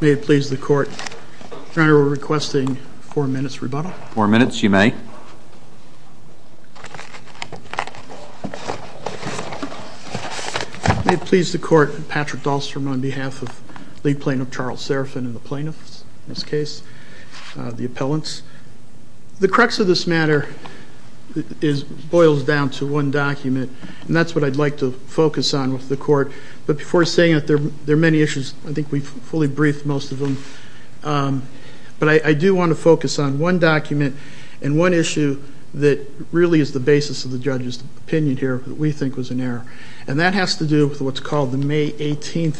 May it please the Court, Your Honor, we're requesting a four-minute rebuttal. Four minutes, you may. May it please the Court, Patrick Dahlstrom on behalf of lead plaintiff Charles Serafin and the plaintiffs in this case, the appellants. The crux of this matter boils down to one document, and that's what I'd like to focus on with the Court. But before saying that, there are many issues. I think we've fully briefed most of them. But I do want to focus on one document and one issue that really is the basis of the judge's opinion here that we think was in error. And that has to do with what's called the May 18,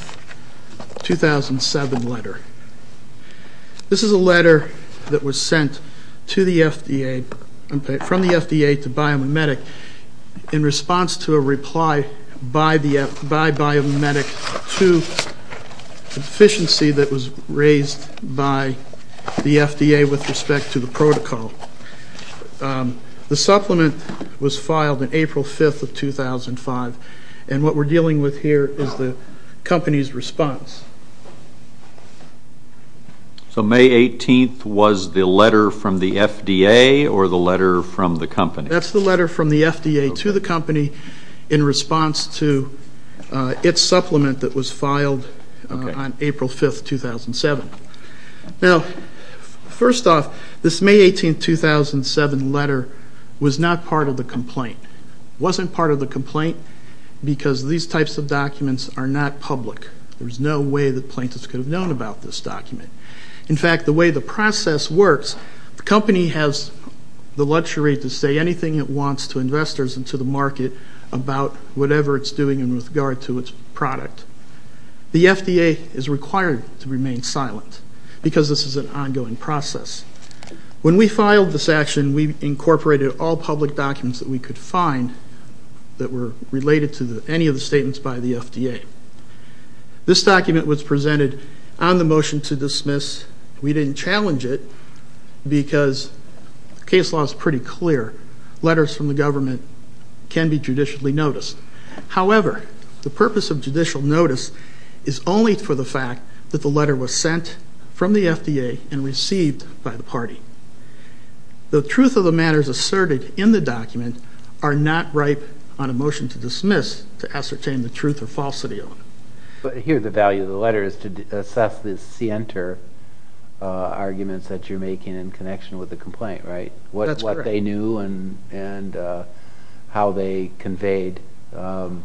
2007 letter. This is a letter that was sent to the FDA, from the FDA to BioMetric in response to a reply by BioMetric to efficiency that was raised by the FDA with respect to the protocol. The supplement was filed on April 5, 2005, and what we're dealing with here is the company's response. So May 18 was the letter from the FDA or the letter from the company? That's the letter from the FDA to the company in response to its supplement that was filed on April 5, 2007. Now, first off, this May 18, 2007 letter was not part of the complaint. It wasn't part of the complaint because these types of documents are not public. There's no way that plaintiffs could have known about this document. In fact, the way the process works, the company has the luxury to say anything it wants to investors and to the market about whatever it's doing in regard to its product. The FDA is required to remain silent because this is an ongoing process. When we filed this action, we incorporated all public documents that we could find that were related to any of the statements by the FDA. This document was presented on the motion to dismiss. We didn't challenge it because the case law is pretty clear. Letters from the government can be judicially noticed. However, the purpose of judicial notice is only for the fact that the letter was sent from the FDA and received by the party. The truth of the matters asserted in the document are not ripe on a motion to dismiss to ascertain the truth or falsity of it. But here the value of the letter is to assess the center arguments that you're making in connection with the complaint, right? That's correct. And how they conveyed to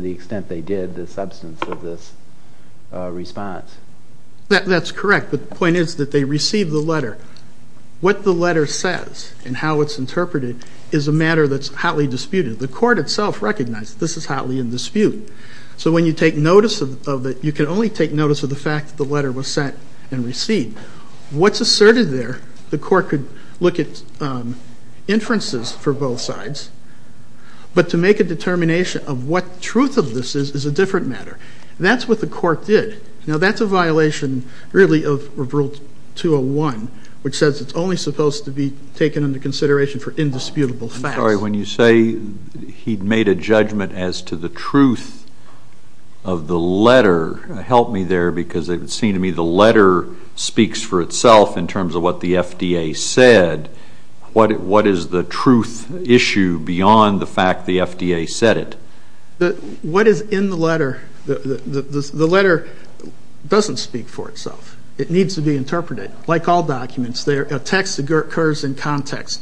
the extent they did the substance of this response. That's correct. But the point is that they received the letter. What the letter says and how it's interpreted is a matter that's hotly disputed. The court itself recognized this is hotly in dispute. So when you take notice of it, you can only take notice of the fact that the letter was sent and received. What's asserted there, the court could look at inferences for both sides. But to make a determination of what truth of this is is a different matter. That's what the court did. Now, that's a violation really of Rule 201, which says it's only supposed to be taken into consideration for indisputable facts. I'm sorry. When you say he'd made a judgment as to the truth of the letter, help me there, because it would seem to me the letter speaks for itself in terms of what the FDA said. What is the truth issue beyond the fact the FDA said it? What is in the letter, the letter doesn't speak for itself. It needs to be interpreted. Like all documents, a text occurs in context.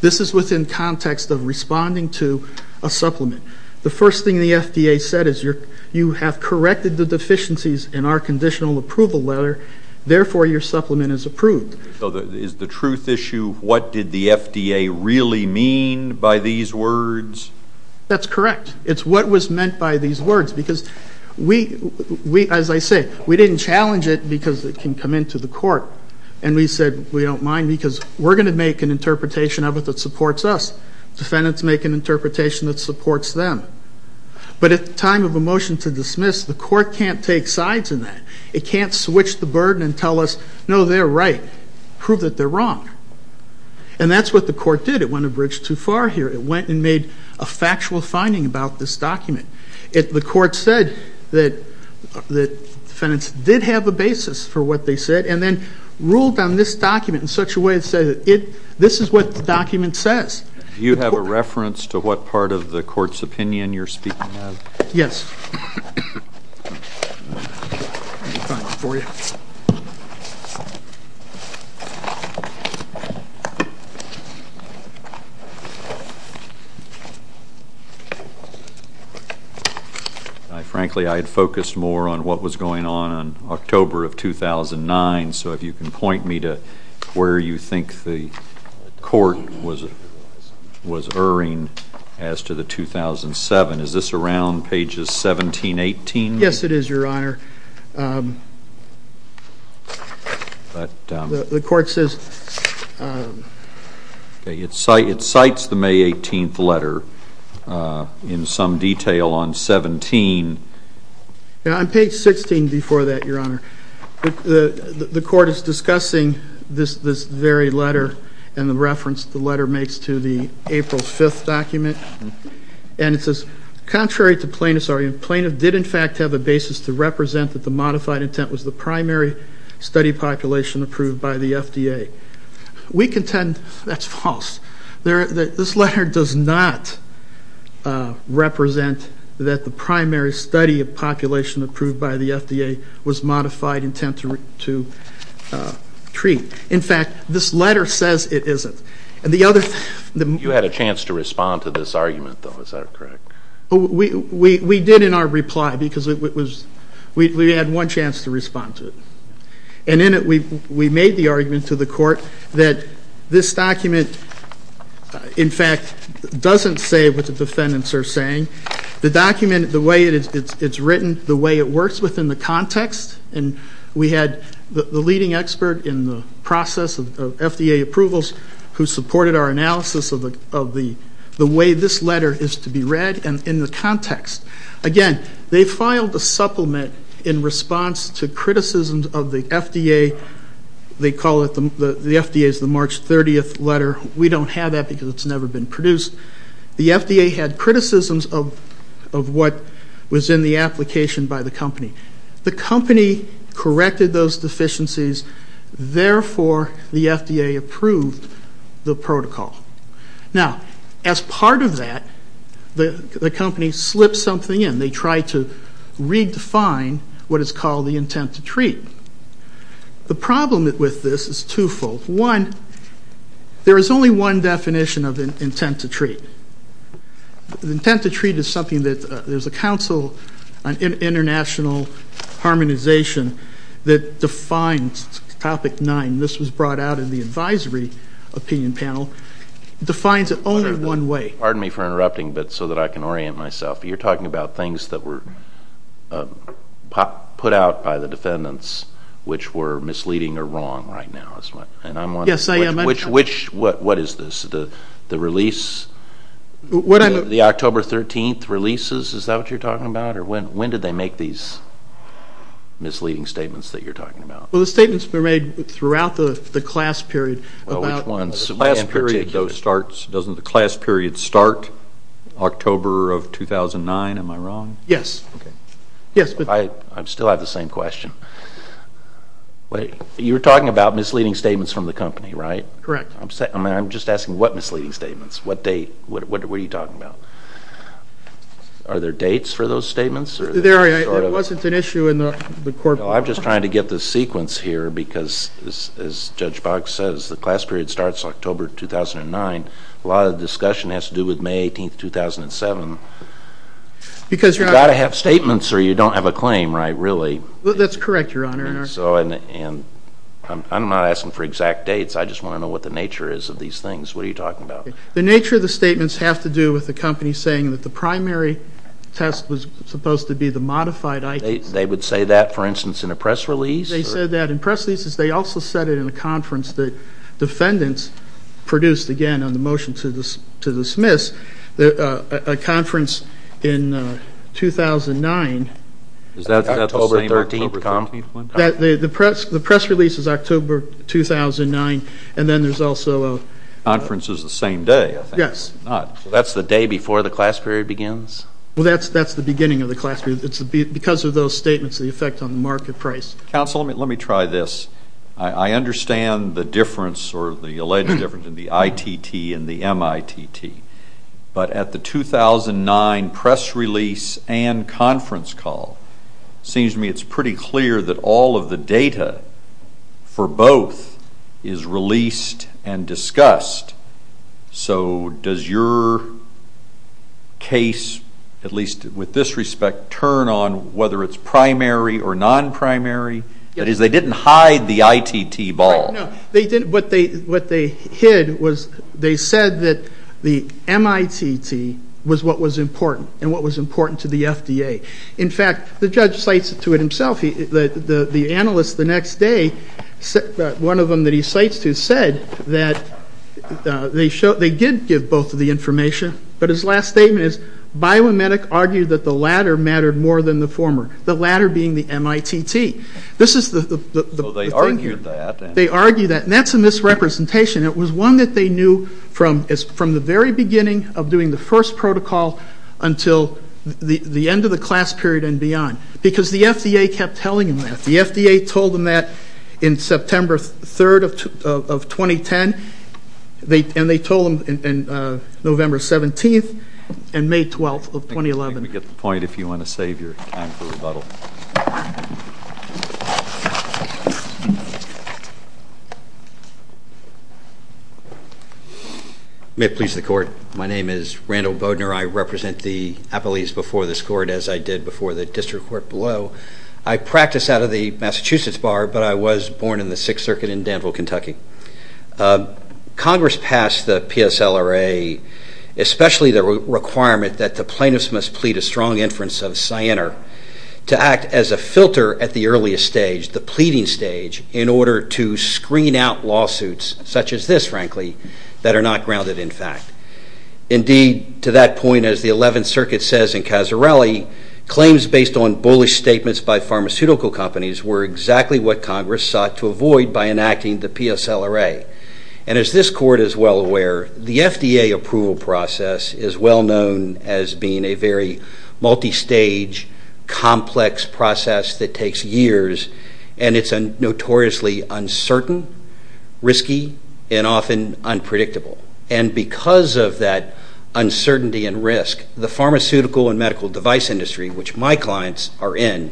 This is within context of responding to a supplement. The first thing the FDA said is you have corrected the deficiencies in our conditional approval letter, therefore your supplement is approved. So is the truth issue what did the FDA really mean by these words? That's correct. It's what was meant by these words, because we, as I say, we didn't challenge it because it can come into the court. And we said we don't mind because we're going to make an interpretation of it that supports us. Defendants make an interpretation that supports them. But at the time of a motion to dismiss, the court can't take sides in that. It can't switch the burden and tell us, no, they're right. Prove that they're wrong. And that's what the court did. It went a bridge too far here. It went and made a factual finding about this document. The court said that defendants did have a basis for what they said and then ruled on this document in such a way that said this is what the document says. Do you have a reference to what part of the court's opinion you're speaking of? Yes. Frankly, I had focused more on what was going on in October of 2009. So if you can point me to where you think the court was erring as to the 2007. Is this around pages 17, 18? Yes, it is, Your Honor. It cites the May 18th letter in some detail on 17. On page 16 before that, Your Honor, the court is discussing this very letter and the reference the letter makes to the April 5th document. And it says, contrary to plaintiffs' argument, plaintiff did in fact have a basis to represent the defendant's argument. He did not represent that the modified intent was the primary study population approved by the FDA. We contend that's false. This letter does not represent that the primary study population approved by the FDA was modified intent to treat. In fact, this letter says it isn't. You had a chance to respond to this argument, though. Is that correct? We did in our reply because we had one chance to respond to it. And in it we made the argument to the court that this document, in fact, doesn't say what the defendants are saying. The document, the way it's written, the way it works within the context, and we had the leading expert in the process of FDA approvals who supported our analysis of the way this letter is to be read and in the context. Again, they filed a supplement in response to criticisms of the FDA. They call it the FDA's March 30th letter. We don't have that because it's never been produced. The FDA had criticisms of what was in the application by the company. The company corrected those deficiencies. Therefore, the FDA approved the protocol. Now, as part of that, the company slipped something in. They tried to redefine what is called the intent to treat. The problem with this is twofold. One, there is only one definition of intent to treat. The intent to treat is something that there's a council on international harmonization that defines topic nine. This was brought out in the advisory opinion panel. It defines it only one way. Pardon me for interrupting so that I can orient myself. You're talking about things that were put out by the defendants, which were misleading or wrong right now. Yes, I am. What is this, the October 13th releases? Is that what you're talking about? When did they make these misleading statements that you're talking about? The statements were made throughout the class period. Which ones? Doesn't the class period start October of 2009? Am I wrong? Yes. I still have the same question. You're talking about misleading statements from the company, right? Correct. I'm just asking what misleading statements? What date? What are you talking about? Are there dates for those statements? There wasn't an issue in the court report. I'm just trying to get the sequence here because, as Judge Boggs says, the class period starts October 2009. A lot of the discussion has to do with May 18th, 2007. You've got to have statements or you don't have a claim, right, really. That's correct, Your Honor. I'm not asking for exact dates. I just want to know what the nature is of these things. What are you talking about? The nature of the statements have to do with the company saying that the primary test was supposed to be the modified item. They would say that, for instance, in a press release? They said that in press releases. They also said it in a conference that defendants produced, again, on the motion to dismiss, a conference in 2009. Is that the same October 13th one? The press release is October 2009, and then there's also a conference. The conference is the same day, I think. Yes. So that's the day before the class period begins? Well, that's the beginning of the class period. It's because of those statements, the effect on the market price. Counsel, let me try this. I understand the difference or the alleged difference in the ITT and the MITT, but at the 2009 press release and conference call, it seems to me it's pretty clear that all of the data for both is released and discussed. So does your case, at least with this respect, turn on whether it's primary or non-primary? That is, they didn't hide the ITT ball. No. What they hid was they said that the MITT was what was important and what was important to the FDA. In fact, the judge cites it to himself. The analyst the next day, one of them that he cites to, said that they did give both of the information, but his last statement is, BioMedic argued that the latter mattered more than the former, the latter being the MITT. So they argued that. They argued that, and that's a misrepresentation. It was one that they knew from the very beginning of doing the first protocol until the end of the class period and beyond because the FDA kept telling them that. The FDA told them that on September 3rd of 2010, and they told them on November 17th and May 12th of 2011. I think we get the point if you want to save your time for rebuttal. May it please the Court. My name is Randall Bodner. I represent the appellees before this Court, as I did before the District Court below. I practice out of the Massachusetts Bar, but I was born in the Sixth Circuit in Danville, Kentucky. Congress passed the PSLRA, especially the requirement that the plaintiffs must plead a strong inference of cyanide to act as a filter at the earliest stage, the pleading stage, in order to screen out lawsuits such as this, frankly, that are not grounded in fact. Indeed, to that point, as the Eleventh Circuit says in Casarelli, claims based on bullish statements by pharmaceutical companies were exactly what Congress sought to avoid by enacting the PSLRA. And as this Court is well aware, the FDA approval process is well known as being a very multistage, complex process that takes years, and it's notoriously uncertain, risky, and often unpredictable. And because of that uncertainty and risk, the pharmaceutical and medical device industry, which my clients are in,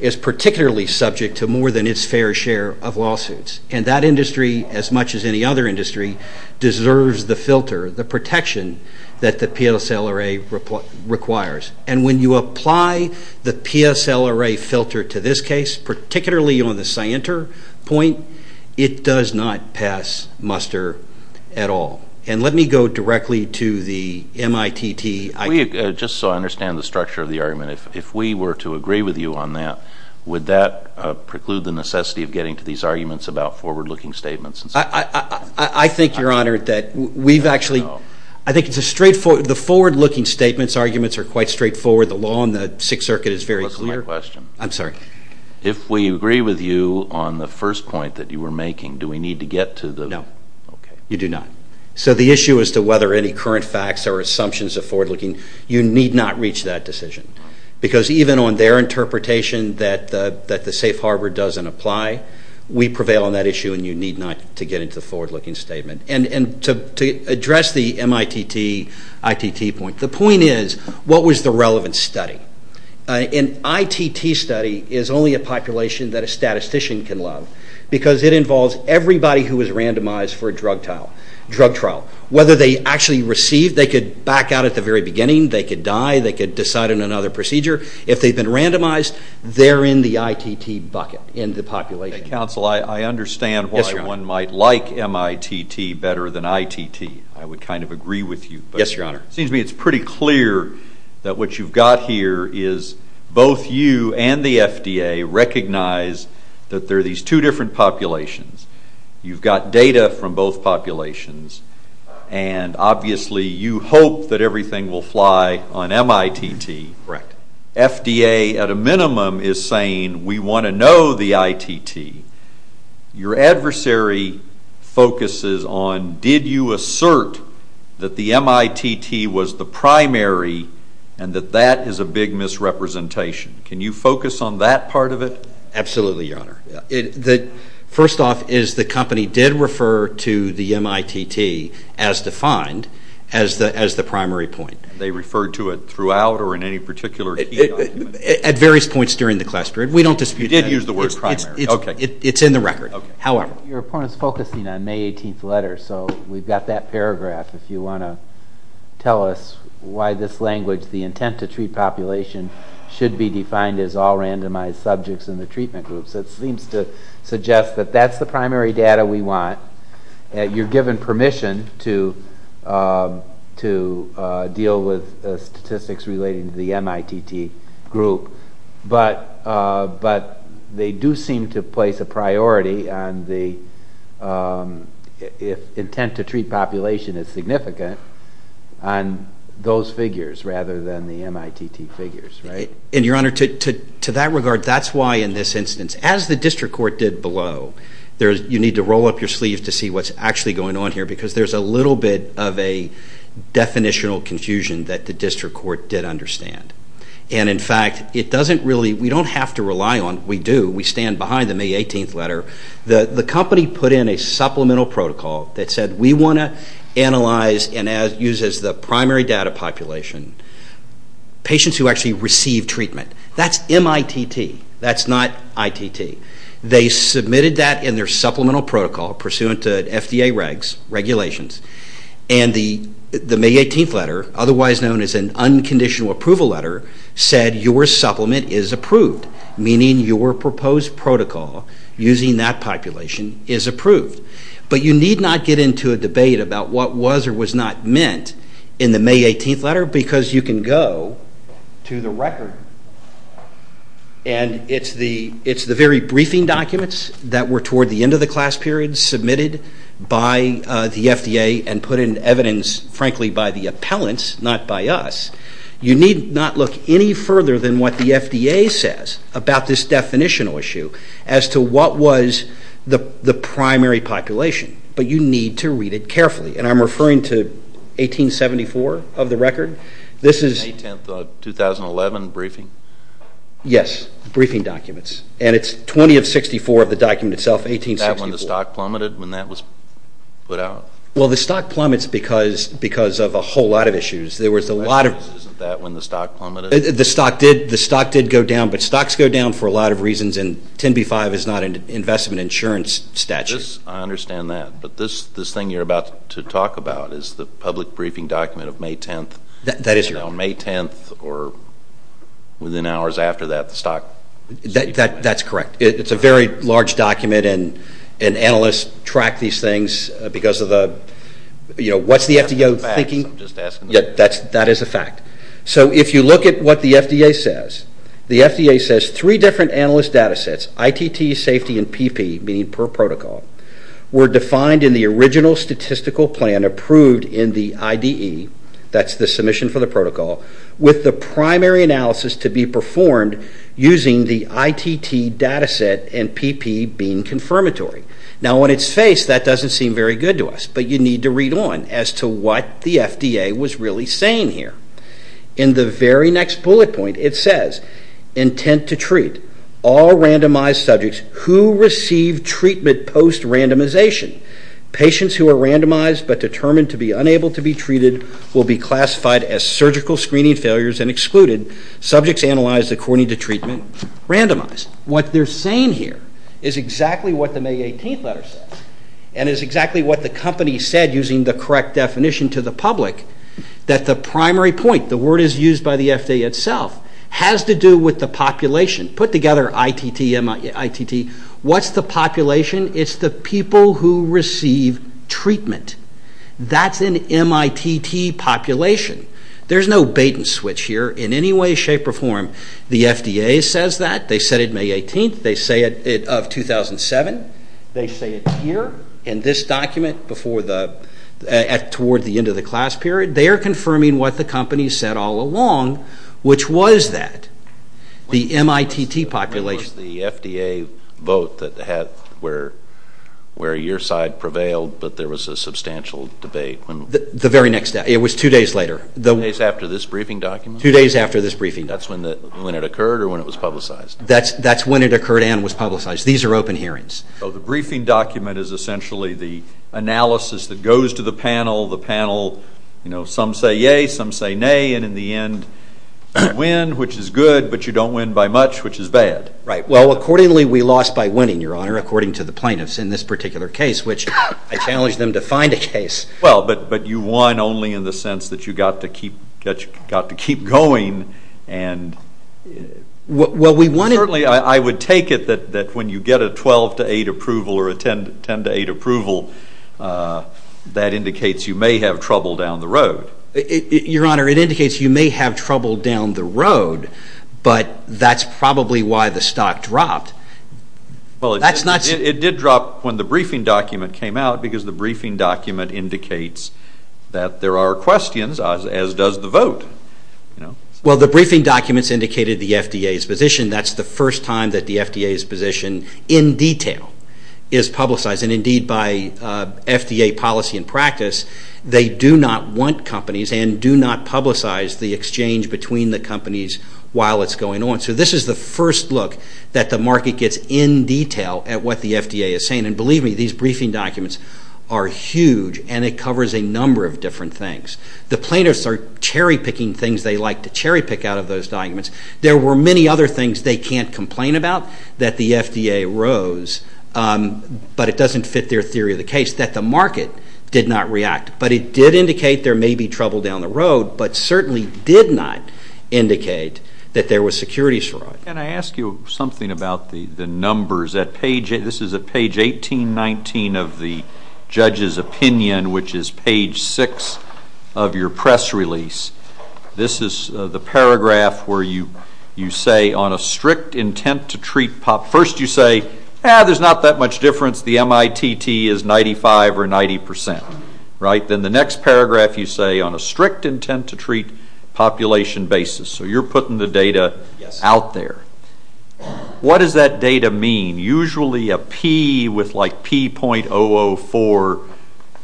is particularly subject to more than its fair share of lawsuits. And that industry, as much as any other industry, deserves the filter, the protection that the PSLRA requires. And when you apply the PSLRA filter to this case, particularly on the cyanter point, it does not pass muster at all. And let me go directly to the MITT. Just so I understand the structure of the argument, if we were to agree with you on that, would that preclude the necessity of getting to these arguments about forward-looking statements? I think, Your Honor, that we've actually... I think the forward-looking statements arguments are quite straightforward. The law in the Sixth Circuit is very clear. Look at my question. I'm sorry. If we agree with you on the first point that you were making, do we need to get to the... No. You do not. So the issue as to whether any current facts or assumptions of forward-looking, you need not reach that decision. Because even on their interpretation that the safe harbor doesn't apply, we prevail on that issue, and you need not to get into the forward-looking statement. And to address the MITT ITT point, the point is, what was the relevant study? An ITT study is only a population that a statistician can love because it involves everybody who was randomized for a drug trial. Whether they actually received, they could back out at the very beginning, they could die, they could decide on another procedure. If they've been randomized, they're in the ITT bucket in the population. Counsel, I understand why one might like MITT better than ITT. I would kind of agree with you. Yes, Your Honor. It seems to me it's pretty clear that what you've got here is both you and the FDA recognize that there are these two different populations. You've got data from both populations, and obviously you hope that everything will fly on MITT. Right. FDA, at a minimum, is saying, we want to know the ITT. Your adversary focuses on, did you assert that the MITT was the primary and that that is a big misrepresentation? Can you focus on that part of it? Absolutely, Your Honor. First off is the company did refer to the MITT, as defined, as the primary point. They referred to it throughout or in any particular key document? At various points during the class period. We don't dispute that. You did use the word primary. It's in the record. However. Your opponent is focusing on May 18th letter, so we've got that paragraph. If you want to tell us why this language, the intent to treat population, should be defined as all randomized subjects in the treatment groups, it seems to suggest that that's the primary data we want. You're given permission to deal with statistics relating to the MITT group, but they do seem to place a priority on the intent to treat population is significant on those figures rather than the MITT figures. Your Honor, to that regard, that's why in this instance, as the district court did below, you need to roll up your sleeves to see what's actually going on here because there's a little bit of a definitional confusion that the district court did understand. In fact, we don't have to rely on it. We do. We stand behind the May 18th letter. The company put in a supplemental protocol that said we want to analyze and use as the primary data population patients who actually receive treatment. That's MITT. That's not ITT. They submitted that in their supplemental protocol pursuant to FDA regulations, and the May 18th letter, otherwise known as an unconditional approval letter, said your supplement is approved, meaning your proposed protocol using that population is approved. But you need not get into a debate about what was or was not meant in the May 18th letter because you can go to the record, and it's the very briefing documents that were toward the end of the class period submitted by the FDA and put in evidence, frankly, by the appellants, not by us. You need not look any further than what the FDA says about this definitional issue as to what was the primary population, but you need to read it carefully. And I'm referring to 1874 of the record. This is... The May 10th of 2011 briefing? Yes, briefing documents. And it's 20 of 64 of the document itself, 1864. Is that when the stock plummeted, when that was put out? Well, the stock plummets because of a whole lot of issues. There was a lot of... Isn't that when the stock plummeted? The stock did go down, but stocks go down for a lot of reasons, and 10b-5 is not an investment insurance statute. I understand that, but this thing you're about to talk about is the public briefing document of May 10th. That is correct. Now, May 10th or within hours after that, the stock... That's correct. It's a very large document, and analysts track these things because of the... You know, what's the FDA thinking? I'm just asking. That is a fact. So if you look at what the FDA says, the FDA says three different analyst data sets, ITT, safety, and PP, meaning per protocol, were defined in the original statistical plan approved in the IDE, that's the submission for the protocol, with the primary analysis to be performed using the ITT data set and PP being confirmatory. Now, on its face, that doesn't seem very good to us, but you need to read on as to what the FDA was really saying here. In the very next bullet point, it says, intent to treat, all randomized subjects who receive treatment post-randomization, patients who are randomized but determined to be unable to be treated will be classified as surgical screening failures and excluded, subjects analyzed according to treatment, randomized. What they're saying here is exactly what the May 18th letter says and is exactly what the company said using the correct definition to the public, that the primary point, the word is used by the FDA itself, has to do with the population. Put together, ITT, MITT, what's the population? It's the people who receive treatment. That's an MITT population. There's no bait and switch here in any way, shape, or form. The FDA says that. They said it May 18th. They say it of 2007. They say it here in this document toward the end of the class period. They are confirming what the company said all along, which was that. The MITT population... The FDA vote where your side prevailed but there was a substantial debate. The very next day. It was two days later. Two days after this briefing document? Two days after this briefing. That's when it occurred or when it was publicized? That's when it occurred and was publicized. These are open hearings. So the briefing document is essentially the analysis that goes to the panel. Some say yay, some say nay, and in the end, you win, which is good, but you don't win by much, which is bad. Right. Well, accordingly, we lost by winning, Your Honor, according to the plaintiffs in this particular case, which I challenged them to find a case. Well, but you won only in the sense that you got to keep going. Well, we won... Certainly, I would take it that when you get a 12 to 8 approval or a 10 to 8 approval, that indicates you may have trouble down the road. Your Honor, it indicates you may have trouble down the road, but that's probably why the stock dropped. Well, it did drop when the briefing document came out because the briefing document indicates that there are questions, as does the vote. Well, the briefing documents indicated the FDA's position. That's the first time that the FDA's position in detail is publicized, and indeed by FDA policy and practice, they do not want companies and do not publicize the exchange between the companies while it's going on. So this is the first look that the market gets in detail at what the FDA is saying, and believe me, these briefing documents are huge and it covers a number of different things. The plaintiffs are cherry-picking things they like to cherry-pick out of those documents. There were many other things they can't complain about that the FDA rose, but it doesn't fit their theory of the case, that the market did not react. But it did indicate there may be trouble down the road, but certainly did not indicate that there was security fraud. Can I ask you something about the numbers? This is at page 1819 of the judge's opinion, which is page 6 of your press release. This is the paragraph where you say, on a strict intent to treat... First you say, eh, there's not that much difference, the MITT is 95 or 90 percent, right? Then the next paragraph you say, on a strict intent to treat population basis. So you're putting the data out there. What does that data mean? Usually a P with like P.004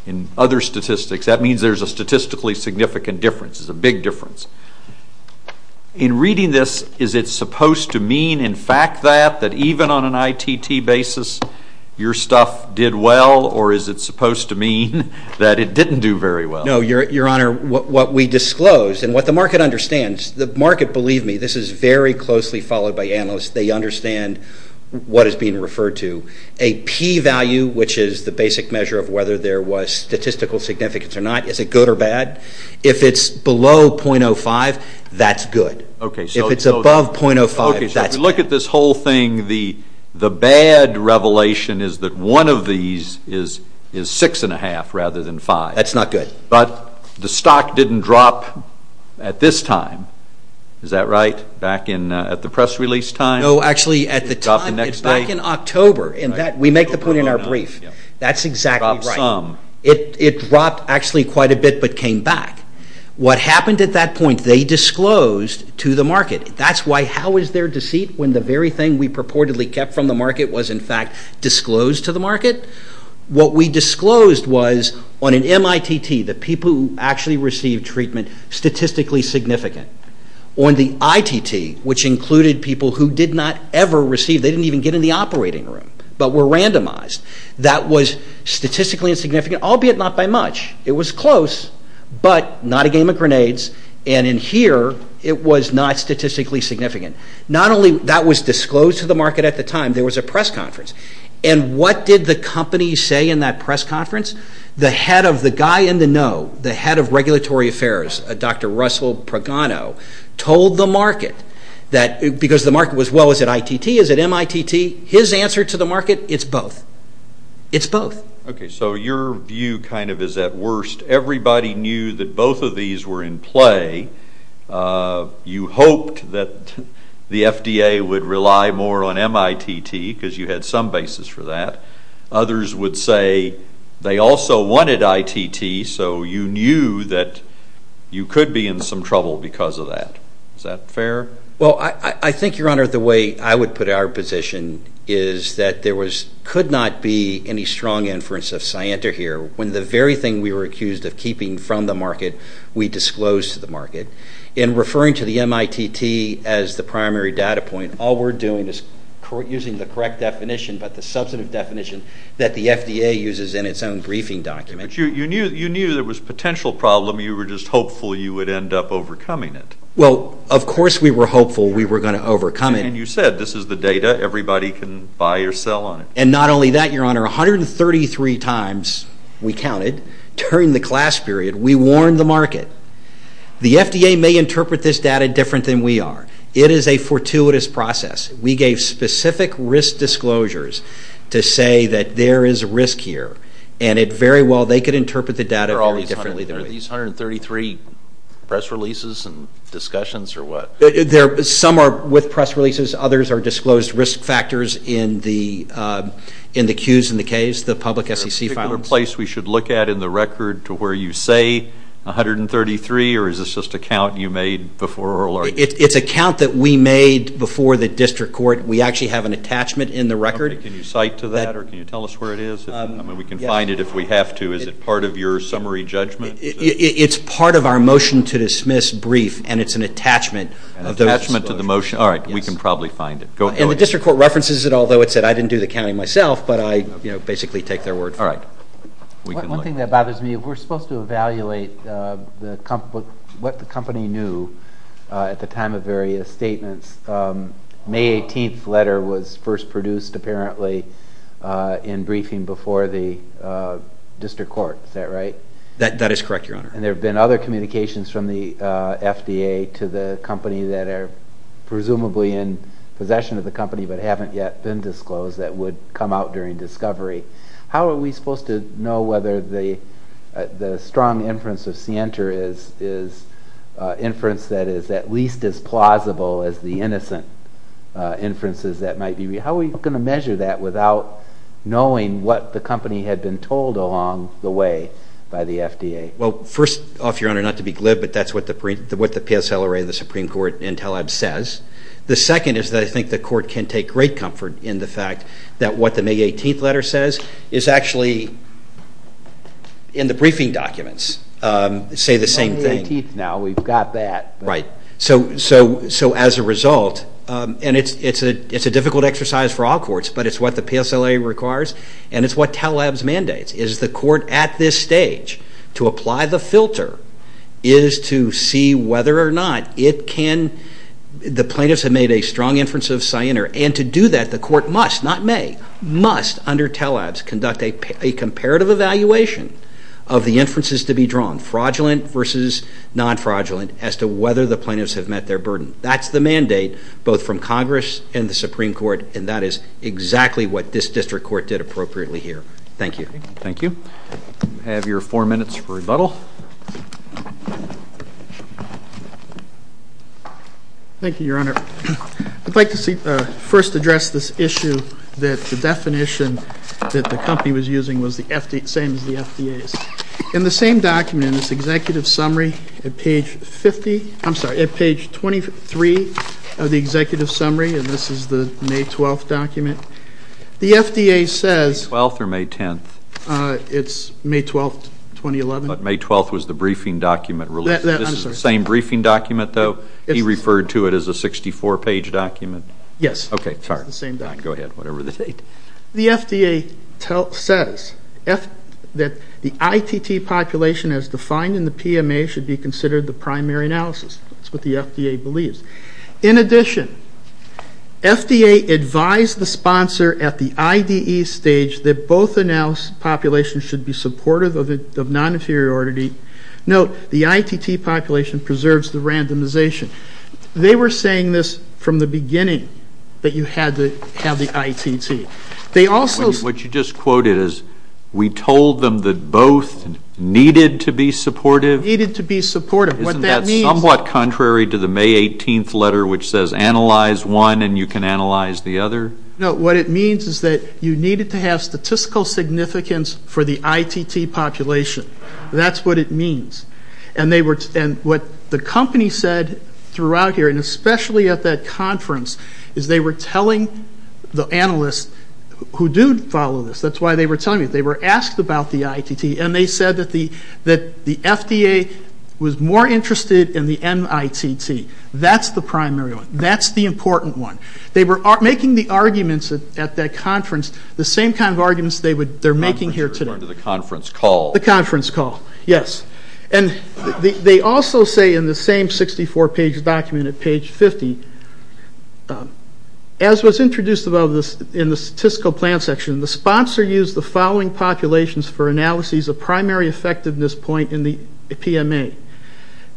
in other statistics. That means there's a statistically significant difference. It's a big difference. In reading this, is it supposed to mean in fact that, that even on an ITT basis, your stuff did well, or is it supposed to mean that it didn't do very well? No, Your Honor, what we disclose, and what the market understands, the market, believe me, this is very closely followed by analysts, they understand what is being referred to. A P value, which is the basic measure of whether there was statistical significance or not, is it good or bad? If it's below .05, that's good. If it's above .05, that's bad. If you look at this whole thing, the bad revelation is that one of these is 6.5 rather than 5. That's not good. But the stock didn't drop at this time. Is that right? Back at the press release time? No, actually, at the time, it's back in October. We make the point in our brief. That's exactly right. It dropped some. It dropped actually quite a bit, but came back. What happened at that point, they disclosed to the market. That's why, how is there deceit when the very thing we purportedly kept from the market was in fact disclosed to the market? What we disclosed was on an MITT, the people who actually received treatment statistically significant, on the ITT, which included people who did not ever receive, they didn't even get in the operating room, but were randomized. That was statistically insignificant, albeit not by much. It was close, but not a game of grenades. And in here, it was not statistically significant. Not only that was disclosed to the market at the time, there was a press conference. And what did the company say in that press conference? The head of the guy in the know, the head of regulatory affairs, Dr. Russell Progano, told the market that, because the market was, well, is it ITT? Is it MITT? His answer to the market, it's both. It's both. Okay, so your view kind of is at worst. Everybody knew that both of these were in play. You hoped that the FDA would rely more on MITT because you had some basis for that. Others would say they also wanted ITT, so you knew that you could be in some trouble because of that. Is that fair? Well, I think, Your Honor, the way I would put our position is that there could not be any strong inference of scienter here when the very thing we were accused of keeping from the market, we disclosed to the market. In referring to the MITT as the primary data point, all we're doing is using the correct definition, but the substantive definition that the FDA uses in its own briefing document. But you knew there was a potential problem. You were just hopeful you would end up overcoming it. Well, of course we were hopeful we were going to overcome it. And you said this is the data. Everybody can buy or sell on it. And not only that, Your Honor, 133 times we counted during the class period we warned the market, the FDA may interpret this data different than we are. It is a fortuitous process. We gave specific risk disclosures to say that there is risk here, and very well they could interpret the data very differently than we did. Are these 133 press releases and discussions or what? Some are with press releases. Others are disclosed risk factors in the cues in the case the public SEC found. Is there a particular place we should look at in the record to where you say 133, or is this just a count you made before oral argument? It's a count that we made before the district court. We actually have an attachment in the record. Can you cite to that, or can you tell us where it is? I mean, we can find it if we have to. Is it part of your summary judgment? It's part of our motion to dismiss brief, and it's an attachment to the motion. All right. We can probably find it. And the district court references it, although it said I didn't do the counting myself, but I basically take their word for it. All right. One thing that bothers me, we're supposed to evaluate what the company knew at the time of various statements. May 18th letter was first produced apparently in briefing before the district court. Is that right? That is correct, Your Honor. And there have been other communications from the FDA to the company that are presumably in possession of the company but haven't yet been disclosed that would come out during discovery. How are we supposed to know whether the strong inference of Sienter is inference that is at least as plausible as the innocent inferences that might be? How are we going to measure that without knowing what the company had been told along the way by the FDA? Well, first, Your Honor, not to be glib, but that's what the PSLRA and the Supreme Court in TALABS says. The second is that I think the court can take great comfort in the fact that what the May 18th letter says is actually, in the briefing documents, say the same thing. It's not May 18th now. We've got that. Right. So as a result, and it's a difficult exercise for all courts, but it's what the PSLRA requires and it's what TALABS mandates. It is the court at this stage to apply the filter is to see whether or not the plaintiffs have made a strong inference of Sienter. And to do that, the court must, not may, must under TALABS conduct a comparative evaluation of the inferences to be drawn, fraudulent versus non-fraudulent, as to whether the plaintiffs have met their burden. That's the mandate both from Congress and the Supreme Court, and that is exactly what this district court did appropriately here. Thank you. Thank you. You have your four minutes for rebuttal. Thank you, Your Honor. I'd like to first address this issue that the definition that the company was using was the same as the FDA's. In the same document, this executive summary at page 50, I'm sorry, at page 23 of the executive summary, and this is the May 12th document, the FDA says It's May 12th or May 10th? It's May 12th, 2011. But May 12th was the briefing document released. I'm sorry. This is the same briefing document, though? He referred to it as a 64-page document. Yes. Okay, sorry. It's the same document. Go ahead, whatever the date. The FDA says that the ITT population as defined in the PMA should be considered the primary analysis. That's what the FDA believes. In addition, FDA advised the sponsor at the IDE stage that both analysis populations should be supportive of non-inferiority. Note, the ITT population preserves the randomization. They were saying this from the beginning, that you had to have the ITT. What you just quoted is we told them that both needed to be supportive? Needed to be supportive. Isn't that somewhat contrary to the May 18th letter, which says analyze one and you can analyze the other? No, what it means is that you needed to have statistical significance for the ITT population. That's what it means. And what the company said throughout here, and especially at that conference, is they were telling the analysts who do follow this, that's why they were telling me, they were asked about the ITT and they said that the FDA was more interested in the NITT. That's the primary one. That's the important one. They were making the arguments at that conference the same kind of arguments they're making here today. The conference call. The conference call, yes. And they also say in the same 64-page document at page 50, as was introduced in the statistical plan section, the sponsor used the following populations for analyses of primary effectiveness point in the PMA.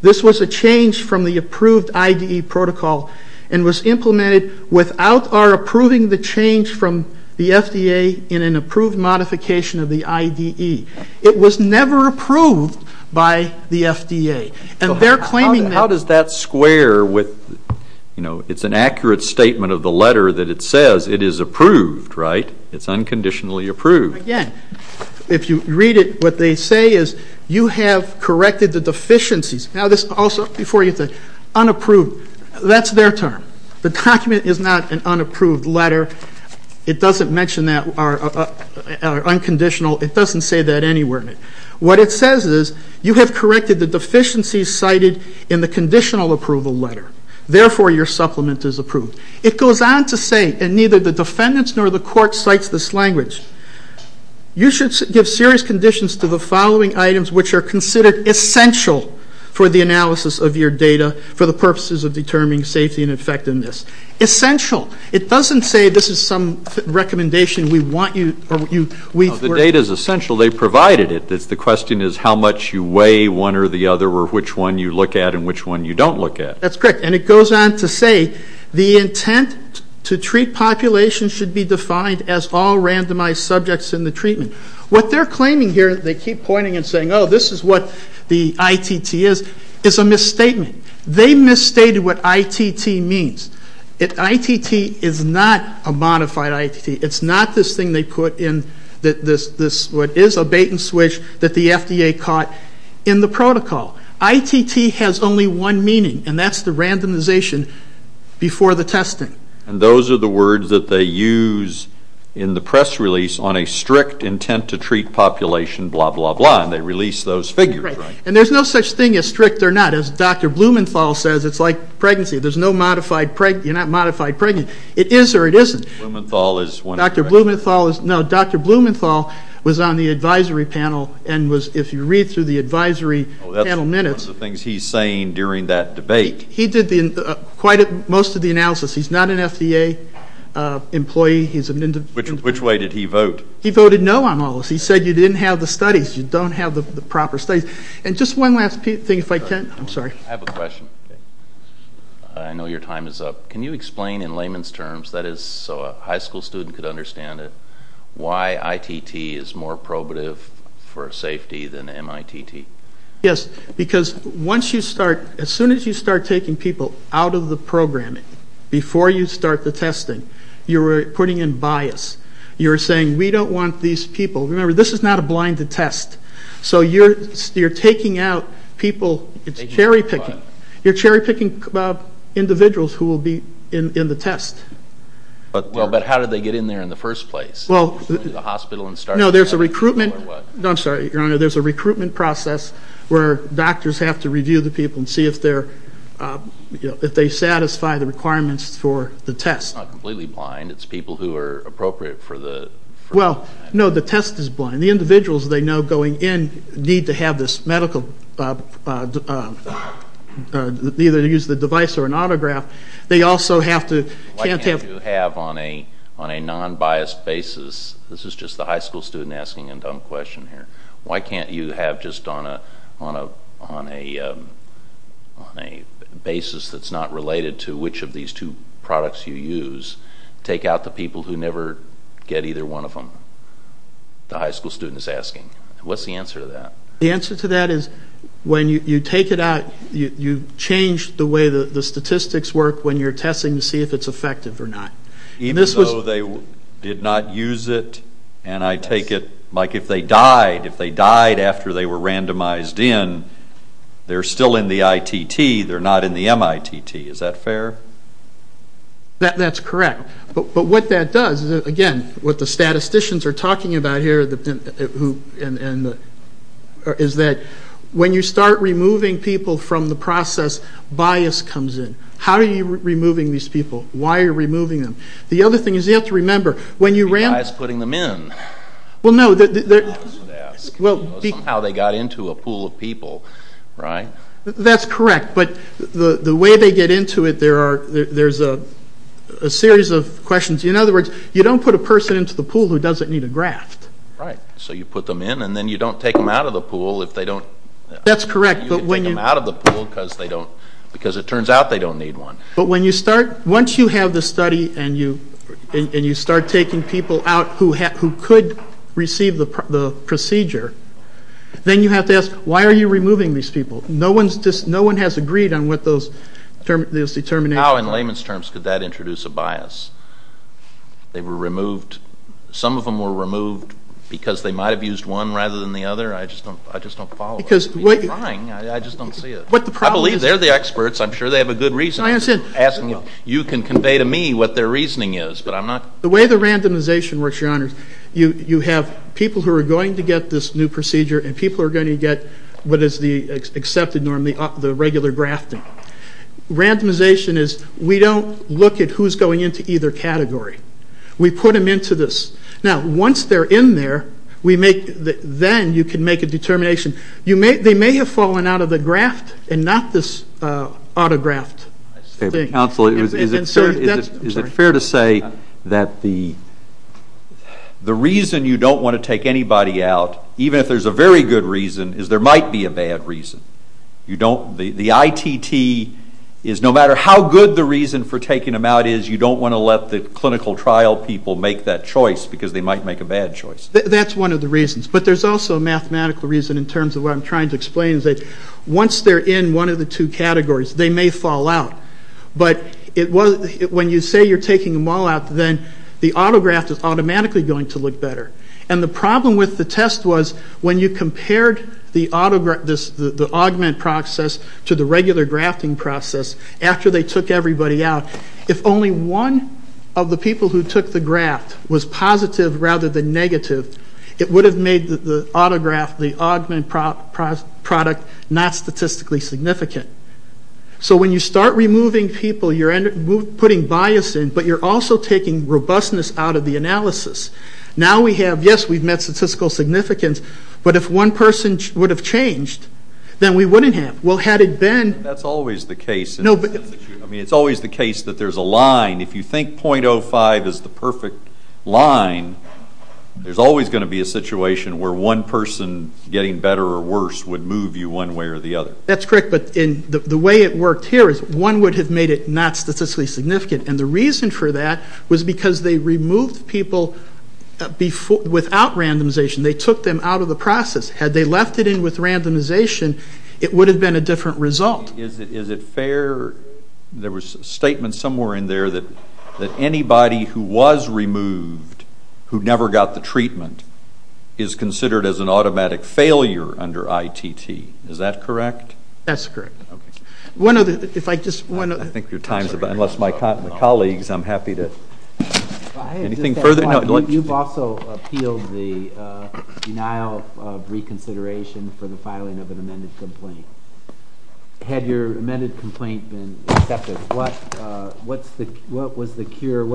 This was a change from the approved IDE protocol and was implemented without our approving the change from the FDA in an approved modification of the IDE. It was never approved by the FDA. How does that square with, you know, it's an accurate statement of the letter that it says it is approved, right? It's unconditionally approved. Again, if you read it, what they say is you have corrected the deficiencies. Now this also, before you say unapproved, that's their term. The document is not an unapproved letter. It doesn't mention that, or unconditional. It doesn't say that anywhere in it. What it says is you have corrected the deficiencies cited in the conditional approval letter. Therefore, your supplement is approved. It goes on to say, and neither the defendants nor the court cites this language, you should give serious conditions to the following items, which are considered essential for the analysis of your data for the purposes of determining safety and effectiveness. Essential. It doesn't say this is some recommendation we want you, or you, we. If the data is essential, they provided it. The question is how much you weigh one or the other, or which one you look at and which one you don't look at. That's correct. And it goes on to say the intent to treat population should be defined as all randomized subjects in the treatment. What they're claiming here, they keep pointing and saying, oh, this is what the ITT is, is a misstatement. They misstated what ITT means. ITT is not a modified ITT. It's not this thing they put in this, what is a bait and switch that the FDA caught in the protocol. ITT has only one meaning, and that's the randomization before the testing. And those are the words that they use in the press release on a strict intent to treat population, blah, blah, blah, and they release those figures, right? Right. And there's no such thing as strict or not. As Dr. Blumenthal says, it's like pregnancy. There's no modified, you're not modified pregnant. It is or it isn't. Dr. Blumenthal was on the advisory panel and was, if you read through the advisory panel minutes. That's one of the things he's saying during that debate. He did most of the analysis. He's not an FDA employee. Which way did he vote? He voted no on all of this. He said you didn't have the studies. You don't have the proper studies. And just one last thing, if I can. I'm sorry. I have a question. I know your time is up. Can you explain in layman's terms, that is so a high school student could understand it, why ITT is more probative for safety than MITT? Yes. Because once you start, as soon as you start taking people out of the programming, before you start the testing, you're putting in bias. You're saying we don't want these people. Remember, this is not a blinded test. So you're taking out people. It's cherry picking. You're cherry picking individuals who will be in the test. But how do they get in there in the first place? Well, there's a recruitment process where doctors have to review the people and see if they satisfy the requirements for the test. It's not completely blind. It's people who are appropriate for the test. Well, no, the test is blind. The individuals they know going in need to have this medical, either to use the device or an autograph. They also have to, can't have. Why can't you have on a non-biased basis, this is just the high school student asking a dumb question here. Why can't you have just on a basis that's not related to which of these two products you use, take out the people who never get either one of them? The high school student is asking. What's the answer to that? The answer to that is when you take it out, you change the way the statistics work when you're testing to see if it's effective or not. Even though they did not use it, and I take it, like if they died, if they died after they were randomized in, they're still in the ITT. They're not in the MITT. Is that fair? That's correct. But what that does, again, what the statisticians are talking about here is that when you start removing people from the process, bias comes in. How are you removing these people? Why are you removing them? The other thing is you have to remember when you randomize. It's putting them in. Well, no. That's what I was going to ask. Somehow they got into a pool of people, right? That's correct. But the way they get into it, there's a series of questions. In other words, you don't put a person into the pool who doesn't need a graft. Right. So you put them in, and then you don't take them out of the pool if they don't. That's correct. You can take them out of the pool because it turns out they don't need one. But when you start, once you have the study and you start taking people out who could receive the procedure, then you have to ask, why are you removing these people? No one has agreed on what those determinations are. How, in layman's terms, could that introduce a bias? They were removed. Some of them were removed because they might have used one rather than the other. I just don't follow. I'm trying. I just don't see it. I believe they're the experts. I'm sure they have a good reason. I understand. I'm just asking if you can convey to me what their reasoning is. The way the randomization works, Your Honors, you have people who are going to get this new procedure, and people are going to get what is the accepted norm, the regular grafting. Randomization is we don't look at who's going into either category. We put them into this. Now, once they're in there, then you can make a determination. They may have fallen out of the graft and not this autograft. Counsel, is it fair to say that the reason you don't want to take anybody out, even if there's a very good reason, is there might be a bad reason? The ITT is no matter how good the reason for taking them out is, you don't want to let the clinical trial people make that choice because they might make a bad choice. That's one of the reasons. But there's also a mathematical reason in terms of what I'm trying to explain. Once they're in one of the two categories, they may fall out. But when you say you're taking them all out, then the autograft is automatically going to look better. And the problem with the test was when you compared the augment process to the regular grafting process after they took everybody out, if only one of the people who took the graft was positive rather than negative, it would have made the autograft, the augment product, not statistically significant. So when you start removing people, you're putting bias in, but you're also taking robustness out of the analysis. Now we have, yes, we've met statistical significance, but if one person would have changed, then we wouldn't have. Well, had it been... That's always the case. No, but... I mean, it's always the case that there's a line. If you think .05 is the perfect line, there's always going to be a situation where one person getting better or worse would move you one way or the other. That's correct, but the way it worked here is one would have made it not statistically significant, and the reason for that was because they removed people without randomization. They took them out of the process. Had they left it in with randomization, it would have been a different result. Is it fair? There was a statement somewhere in there that anybody who was removed who never got the treatment is considered as an automatic failure under ITT. Is that correct? That's correct. If I could just... I think your time is up. Unless my colleagues, I'm happy to... Anything further? You've also appealed the denial of reconsideration for the filing of an amended complaint. Had your amended complaint been accepted, what was the cure?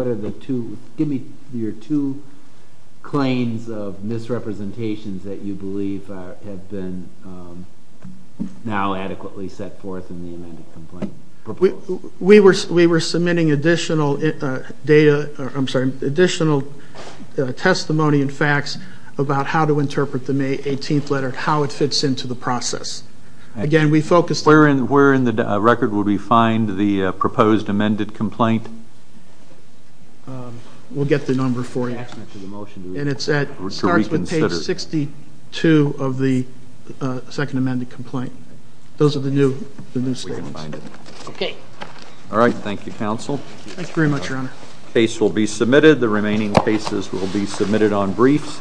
Give me your two claims of misrepresentations that you believe have been now adequately set forth in the amended complaint. We were submitting additional testimony and facts about how to interpret the May 18th letter, how it fits into the process. Where in the record would we find the proposed amended complaint? We'll get the number for you. And it starts with page 62 of the second amended complaint. Those are the new statements. Okay. All right. Thank you, counsel. Thank you very much, Your Honor. The case will be submitted. The remaining cases will be submitted on briefs.